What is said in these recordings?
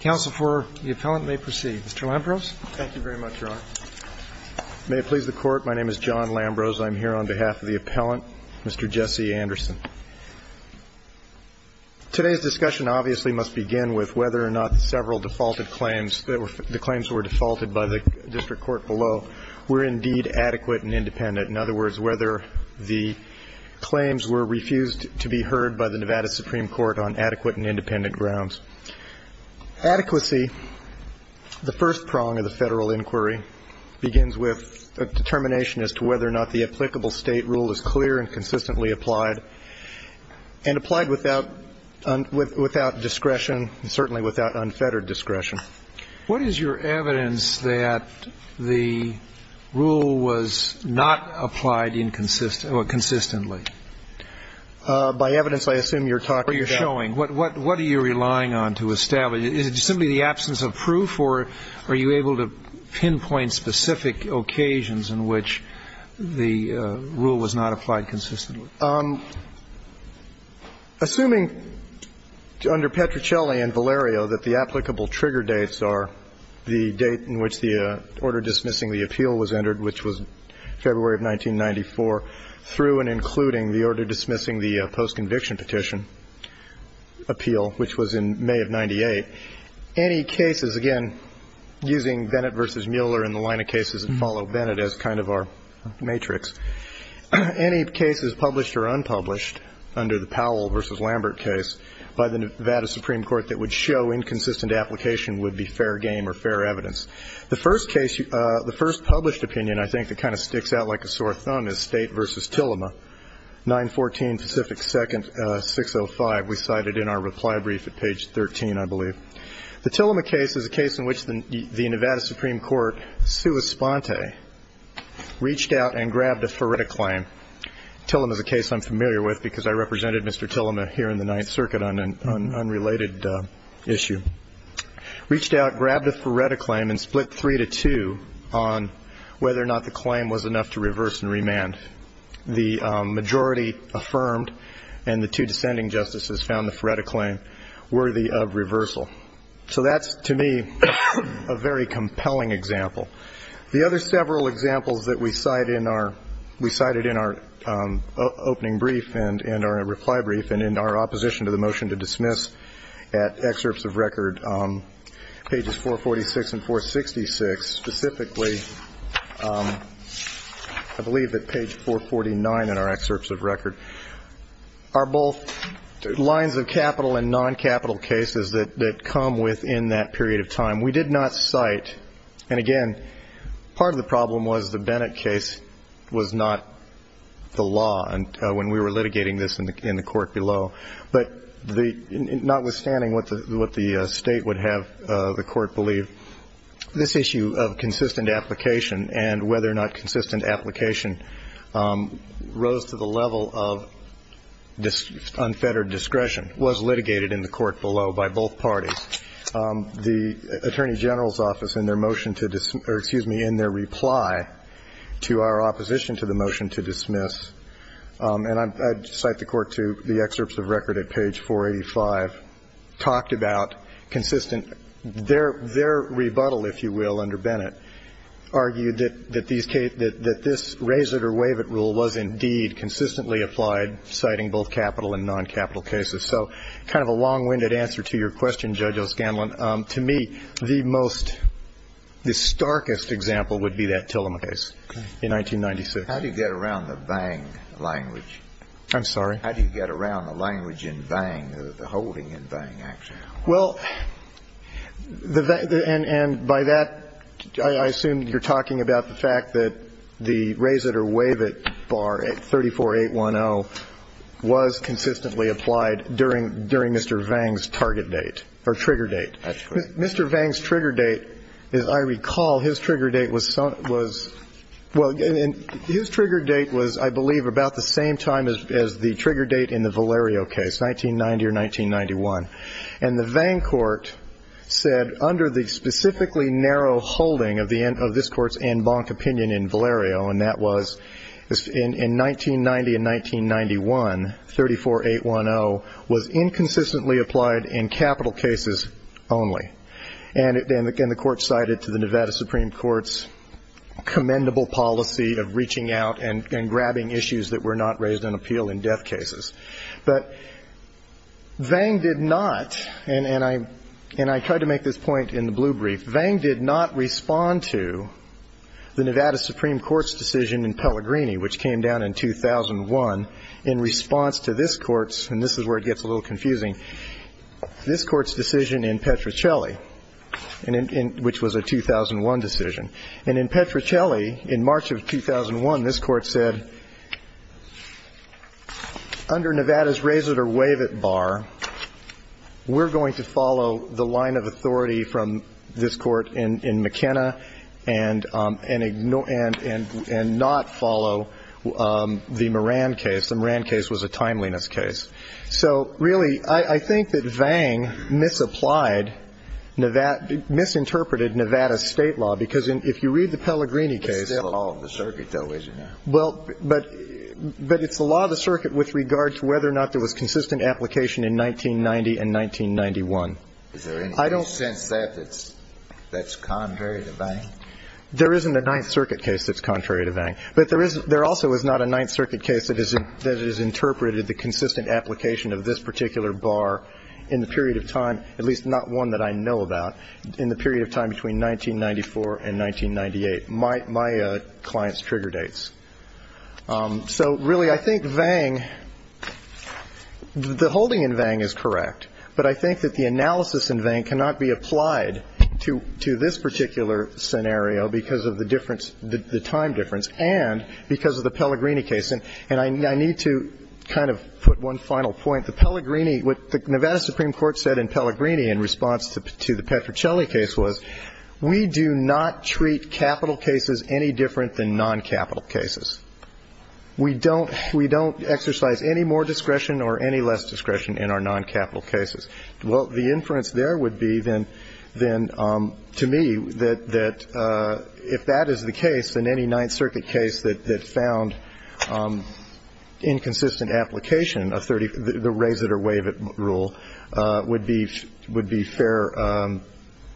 Counsel for the appellant may proceed. Mr. Lambrose. Thank you very much, Your Honor. May it please the Court, my name is John Lambrose. I'm here on behalf of the appellant, Mr. Jesse Anderson. Today's discussion obviously must begin with whether or not several defaulted claims, the claims that were defaulted by the district court below, were indeed adequate and independent. In other words, whether the claims were refused to be heard by the Nevada Supreme Court on adequate and independent grounds. Adequacy, the first prong of the federal inquiry, begins with a determination as to whether or not the applicable state rule is clear and consistently applied, and applied without discretion, and certainly without unfettered discretion. What is your evidence that the rule was not applied consistently? By evidence, I assume you're talking about... Or you're showing. What are you relying on to establish? Is it simply the absence of proof, or are you able to pinpoint specific occasions in which the rule was not applied consistently? Assuming under Petruccelli and Valerio that the applicable trigger dates are the date in which the order dismissing the appeal was entered, which was February of 1994, through and including the order dismissing the post-conviction petition appeal, which was in May of 98, any cases, again, using Bennett v. Mueller in the line of cases that follow Bennett as kind of our matrix, any cases published or unpublished under the Powell v. Lambert case by the Nevada Supreme Court that would show inconsistent application would be fair game or fair evidence. The first case, the first published opinion, I think, that kind of sticks out like a sore thumb is State v. Tillema, 914 Pacific 2nd, 605. We cited in our reply brief at page 13, I believe. The Tillema case is a case in which the Nevada Supreme Court, sua sponte, reached out and grabbed a FERETA claim. Tillema is a case I'm familiar with because I represented Mr. Tillema here in the issue, reached out, grabbed a FERETA claim, and split three to two on whether or not the claim was enough to reverse and remand. The majority affirmed, and the two descending justices found the FERETA claim worthy of reversal. So that's, to me, a very compelling example. The other several examples that we cite in our opening brief and our reply brief and in our opposition to the motion to dismiss at excerpts of record pages 446 and 466, specifically I believe at page 449 in our excerpts of record, are both lines of capital and non-capital cases that come within that period of time. We did not cite, and again, part of the problem was the Bennett case was not the case that was litigated in the court below. But notwithstanding what the State would have the Court believe, this issue of consistent application and whether or not consistent application rose to the level of unfettered discretion was litigated in the Court below by both parties. The Attorney General's Office in their motion to dismiss or, excuse me, in their reply to our opposition to the motion to dismiss, and I cite the Court to the excerpts of record at page 485, talked about consistent. Their rebuttal, if you will, under Bennett argued that this raise-it-or-waive-it rule was indeed consistently applied, citing both capital and non-capital cases. So kind of a long-winded answer to your question, Judge O'Scanlan. To me, the most, the starkest example would be that Tillam case in 1996. How do you get around the Vang language? I'm sorry? How do you get around the language in Vang, the holding in Vang, actually? Well, and by that, I assume you're talking about the fact that the raise-it-or-wave-it bar at 34810 was consistently applied during Mr. Vang's target date or trigger date. That's correct. Mr. Vang's trigger date, as I recall, his trigger date was, well, his trigger date was, I believe, about the same time as the trigger date in the Valerio case, 1990 or 1991. And the Vang court said under the specifically narrow holding of this Court's en banc opinion in Valerio, and that was in 1990 and 1991, 34810 was inconsistently applied in capital cases only. And the Court cited to the Nevada Supreme Court's commendable policy of reaching out and grabbing issues that were not raised in appeal in death cases. But Vang did not, and I tried to make this point in the blue brief, Vang did not respond to the Nevada Supreme Court's decision in Pellegrini, which came down in 2001 in response to this Court's, and this is where it gets a little confusing, this Court's decision in Petrocelli, which was a 2001 decision. And in Petrocelli, in March of 2001, this Court said, under Nevada's raise-it-or-wave-it law, we're going to follow the line of authority from this Court in McKenna and ignore and not follow the Moran case. The Moran case was a timeliness case. So, really, I think that Vang misapplied Nevada, misinterpreted Nevada's State law, because if you read the Pellegrini case. And there was a case that was misinterpreted in 1990 and 1991. I don't sense that that's contrary to Vang. There isn't a Ninth Circuit case that's contrary to Vang. But there also is not a Ninth Circuit case that has interpreted the consistent application of this particular bar in the period of time, at least not one that I know about, in the period of time between 1994 and 1998, my client's trigger dates. So, really, I think Vang, the holding in Vang is correct. But I think that the analysis in Vang cannot be applied to this particular scenario because of the difference, the time difference, and because of the Pellegrini case. And I need to kind of put one final point. The Pellegrini, what the Nevada Supreme Court said in Pellegrini in response to the Petrocelli case was we do not treat capital cases any different than noncapital cases. We don't exercise any more discretion or any less discretion in our noncapital cases. Well, the inference there would be then, to me, that if that is the case, then any Ninth Circuit case that found inconsistent application of the raise it or waive it rule would be fair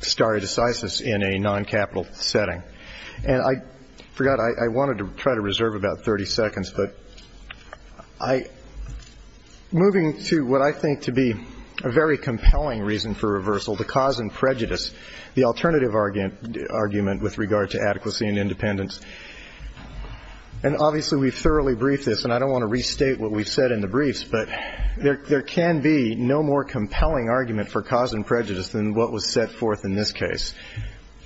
stare decisis in a noncapital setting. And I forgot. I wanted to try to reserve about 30 seconds. But moving to what I think to be a very compelling reason for reversal, the cause and prejudice, the alternative argument with regard to adequacy and independence and, obviously, we've thoroughly briefed this. And I don't want to restate what we've said in the briefs. But there can be no more compelling argument for cause and prejudice than what was set forth in this case.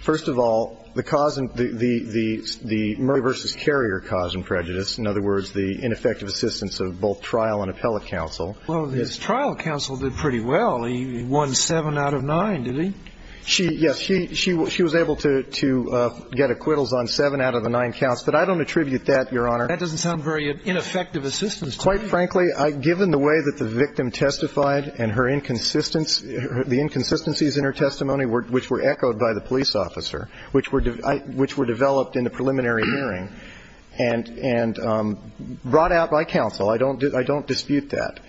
First of all, the cause and the Murray v. Carrier cause and prejudice, in other words, the ineffective assistance of both trial and appellate counsel. Well, his trial counsel did pretty well. He won seven out of nine, didn't he? Yes. She was able to get acquittals on seven out of the nine counts. But I don't attribute that, Your Honor. That doesn't sound very ineffective assistance to me. Quite frankly, given the way that the victim testified and her inconsistencies in her testimony, which were echoed by the police officer, which were developed in the preliminary hearing and brought out by counsel, I don't dispute that.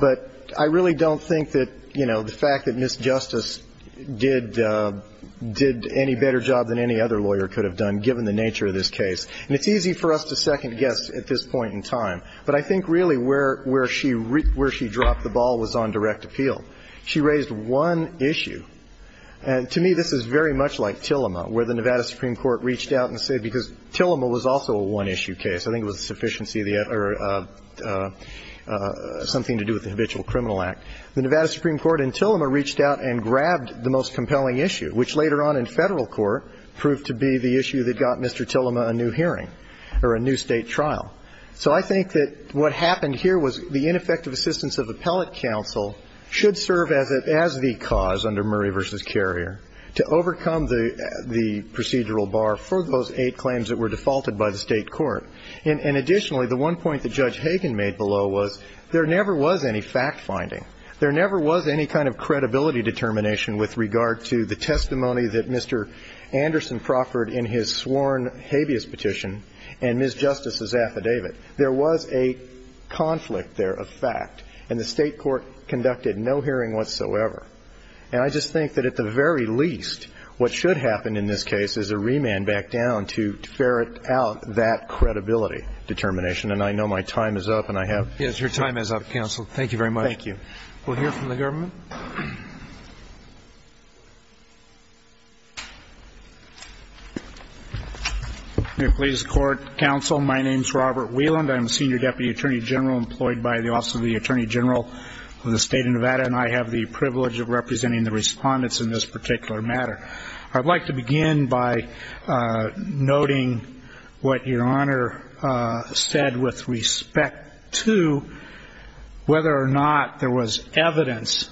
But I really don't think that, you know, the fact that Ms. Justice did any better job than any other lawyer could have done, given the nature of this case. And it's easy for us to second-guess at this point in time. But I think really where she dropped the ball was on direct appeal. She raised one issue. And to me, this is very much like Tillema, where the Nevada Supreme Court reached out and said, because Tillema was also a one-issue case. I think it was a sufficiency or something to do with the Habitual Criminal Act. The Nevada Supreme Court in Tillema reached out and grabbed the most compelling issue, which later on in Federal court proved to be the issue that got Mr. Tillema a new hearing or a new State trial. So I think that what happened here was the ineffective assistance of appellate counsel should serve as the cause under Murray v. Carrier to overcome the procedural bar for those eight claims that were defaulted by the State court. And additionally, the one point that Judge Hagan made below was there never was any fact-finding. There never was any kind of credibility determination with regard to the testimony that Mr. Anderson proffered in his sworn habeas petition and Ms. Justice's affidavit. There was a conflict there of fact. And the State court conducted no hearing whatsoever. And I just think that at the very least, what should happen in this case is a remand back down to ferret out that credibility determination. And I know my time is up and I have to go. Yes, your time is up, counsel. Thank you very much. Thank you. We'll hear from the government. Please. Court, counsel, my name is Robert Wieland. I'm the senior deputy attorney general employed by the Office of the Attorney General of the State of Nevada. And I have the privilege of representing the respondents in this particular matter. I'd like to begin by noting what your Honor said with respect to whether or not there was evidence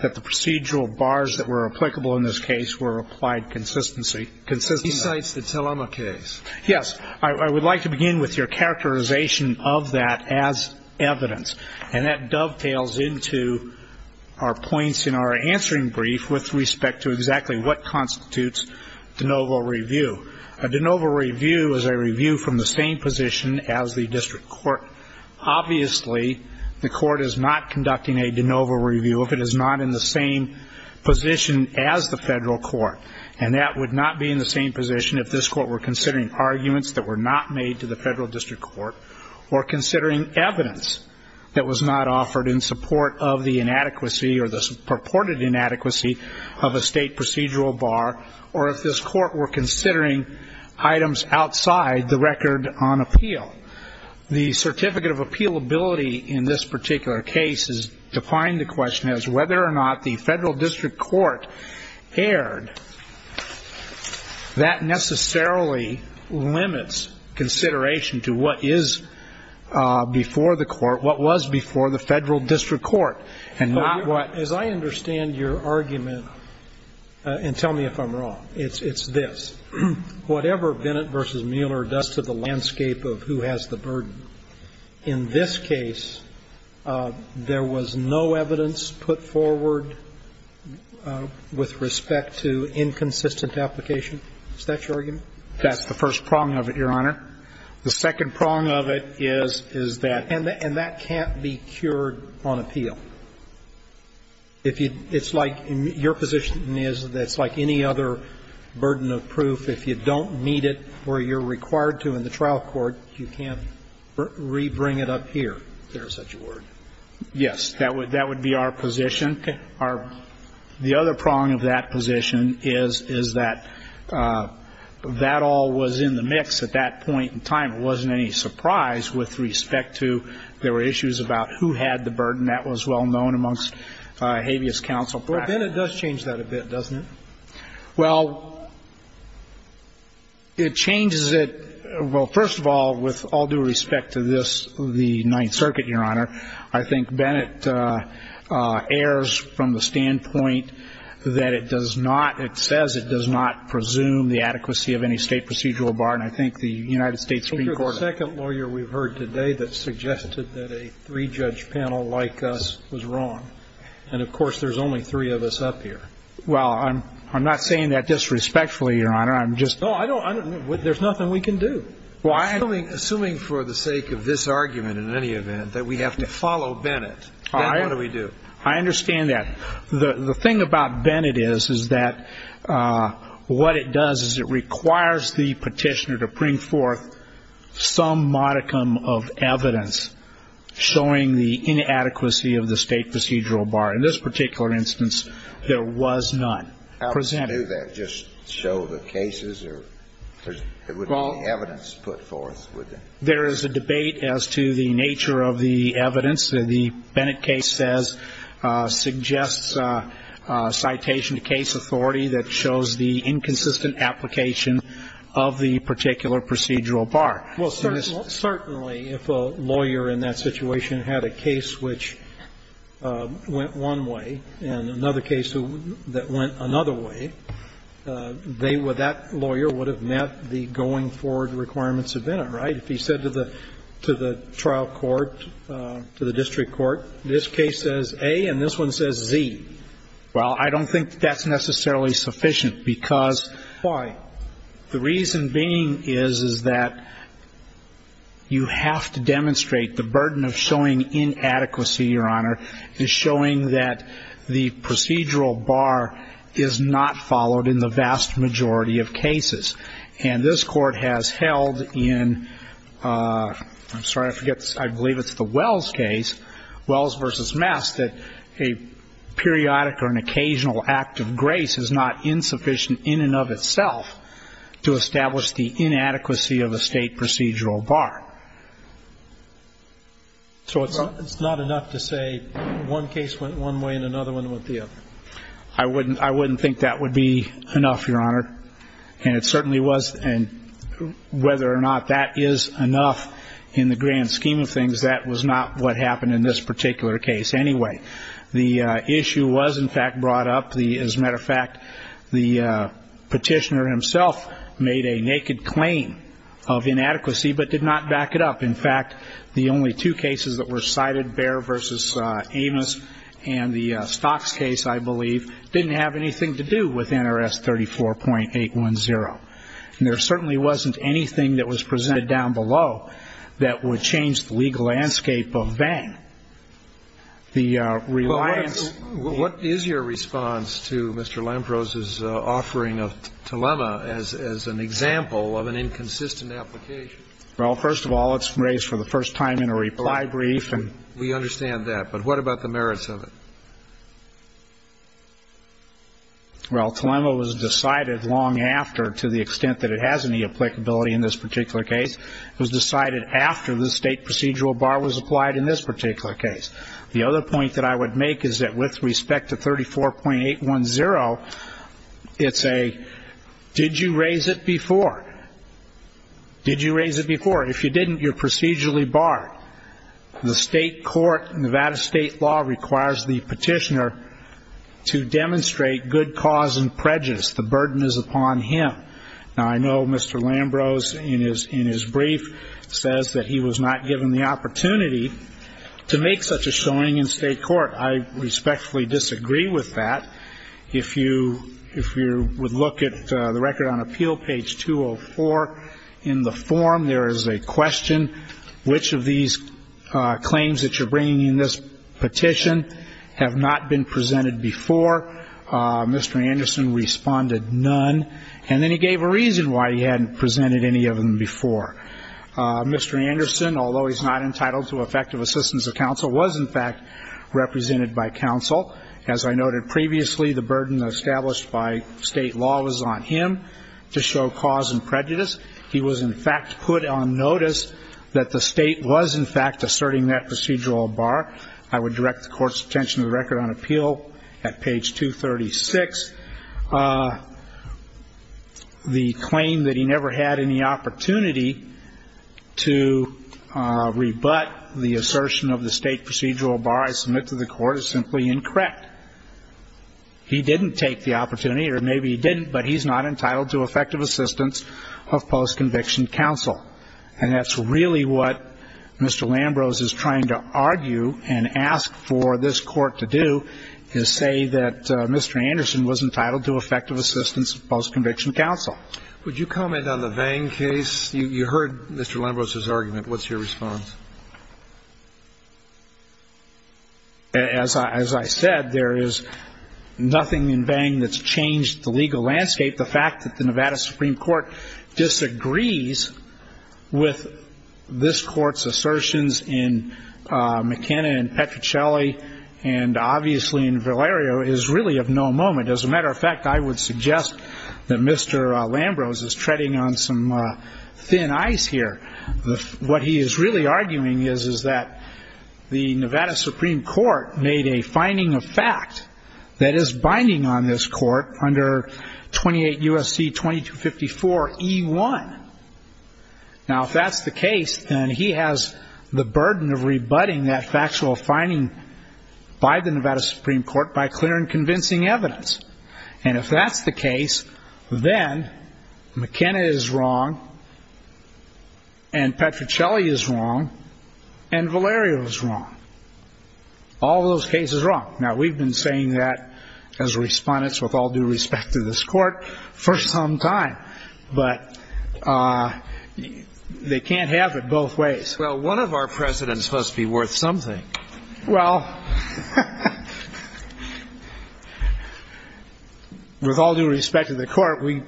that the procedural bars that were applicable in this case were applied consistently. He cites the Telema case. Yes. I would like to begin with your characterization of that as evidence. And that dovetails into our points in our answering brief with respect to exactly what constitutes de novo review. A de novo review is a review from the same position as the district court. Obviously, the court is not conducting a de novo review if it is not in the same position as the federal court. And that would not be in the same position if this court were considering arguments that were not made to the federal district court, or considering evidence that was not offered in support of the inadequacy or the purported inadequacy of a state procedural bar, or if this court were considering items outside the record on appeal. The certificate of appealability in this particular case is defying the question as to whether or not the federal district court erred. That necessarily limits consideration to what is before the court, what was before the federal district court, and not what. As I understand your argument, and tell me if I'm wrong, it's this. Whatever Bennett v. Mueller does to the landscape of who has the burden, in this case, there was no evidence put forward with respect to inconsistent application. Is that your argument? That's the first prong of it, Your Honor. The second prong of it is, is that. And that can't be cured on appeal. If you, it's like, your position is that it's like any other burden of proof. If you don't meet it where you're required to in the trial court, you can't rebring it up here, if there is such a word. Yes. That would be our position. Okay. The other prong of that position is, is that that all was in the mix at that point in time. It wasn't any surprise with respect to there were issues about who had the burden. That was well known amongst habeas counsel practice. Well, Bennett does change that a bit, doesn't it? Well, it changes it. Well, first of all, with all due respect to this, the Ninth Circuit, Your Honor, I think Bennett errs from the standpoint that it does not, it says it does not presume the adequacy of any state procedural bar. And I think the United States Supreme Court. You're the second lawyer we've heard today that suggested that a three-judge panel like us was wrong. And, of course, there's only three of us up here. Well, I'm not saying that disrespectfully, Your Honor. I'm just. No, I don't. There's nothing we can do. Assuming for the sake of this argument in any event that we have to follow Bennett, then what do we do? I understand that. The thing about Bennett is, is that what it does is it requires the petitioner to bring forth some modicum of evidence showing the inadequacy of the state procedural bar. In this particular instance, there was none presented. Well, you can't do that. Just show the cases or there wouldn't be evidence put forth, would there? There is a debate as to the nature of the evidence. The Bennett case says, suggests citation to case authority that shows the inconsistent application of the particular procedural bar. Well, certainly if a lawyer in that situation had a case which went one way and another case that went another way, they would, that lawyer would have met the going forward requirements of Bennett, right? If he said to the trial court, to the district court, this case says A and this one says Z. Well, I don't think that's necessarily sufficient because. Why? The reason being is, is that you have to demonstrate the burden of showing inadequacy, Your Honor, is showing that the procedural bar is not followed in the vast majority of cases. And this Court has held in, I'm sorry, I forget, I believe it's the Wells case, Wells v. Mast, that a periodic or an occasional act of grace is not insufficient in and of itself to establish the inadequacy of a state procedural bar. So it's not enough to say one case went one way and another one went the other? I wouldn't, I wouldn't think that would be enough, Your Honor. And it certainly was, and whether or not that is enough in the grand scheme of things, that was not what happened in this particular case anyway. The issue was in fact brought up, as a matter of fact, the petitioner himself made a naked claim of inadequacy, but did not back it up. In fact, the only two cases that were cited, Bair v. Amos and the Stocks case, I believe, didn't have anything to do with NRS 34.810. And there certainly wasn't anything that was presented down below that would change the legal landscape of Vang. And I'm not sure that that's a good example of an inconsistent application. Well, first of all, it's raised for the first time in a reply brief, and we understand that. But what about the merits of it? Well, Telema was decided long after, to the extent that it has any applicability in this particular case. It was decided after the state procedural bar was applied in this particular case. The other point that I would make is that with respect to 34.810, it's a, did you raise it before? Did you raise it before? If you didn't, you're procedurally barred. The state court, Nevada state law, requires the petitioner to demonstrate good cause and prejudice. The burden is upon him. Now, I know Mr. Lambrose, in his brief, says that he was not given the opportunity to make such a showing in state court. I respectfully disagree with that. If you would look at the record on appeal, page 204, in the form, there is a question, which of these claims that you're bringing in this petition have not been presented before? Mr. Anderson responded, none. And then he gave a reason why he hadn't presented any of them before. Mr. Anderson, although he's not entitled to effective assistance of counsel, was, in fact, represented by counsel. As I noted previously, the burden established by state law was on him to show cause and prejudice. He was, in fact, put on notice that the state was, in fact, asserting that procedural bar. I would direct the court's attention to the record on appeal at page 236. The claim that he never had any opportunity to rebut the assertion of the state procedural bar I submit to the court is simply incorrect. He didn't take the opportunity, or maybe he didn't, but he's not entitled to effective assistance of post-conviction counsel. And that's really what Mr. Lambrose is trying to argue and ask for this court to do, is say that Mr. Anderson was entitled to effective assistance of post-conviction counsel. Would you comment on the Vang case? You heard Mr. Lambrose's argument. What's your response? As I said, there is nothing in Vang that's changed the legal landscape. The fact that the Nevada Supreme Court disagrees with this court's assertions in McKenna and Petruccelli and obviously in Valerio is really of no moment. As a matter of fact, I would suggest that Mr. Lambrose is treading on some thin ice here. What he is really arguing is that the Nevada Supreme Court made a finding of fact that is binding on this court under 28 U.S.C. 2254E1. Now, if that's the case, then he has the burden of rebutting that factual finding by the Nevada Supreme Court by clear and convincing evidence. And if that's the case, then McKenna is wrong and Petruccelli is wrong and Valerio is wrong. All those cases are wrong. Now, we've been saying that as respondents with all due respect to this court for some time. But they can't have it both ways. Well, one of our presidents must be worth something. Well, with all due respect to the court, we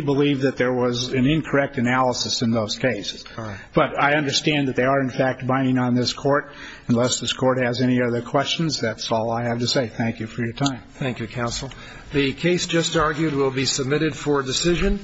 believe that there was an incorrect analysis in those cases. But I understand that they are, in fact, binding on this court. Unless this court has any other questions, that's all I have to say. Thank you for your time. Thank you, counsel. The case just argued will be submitted for decision.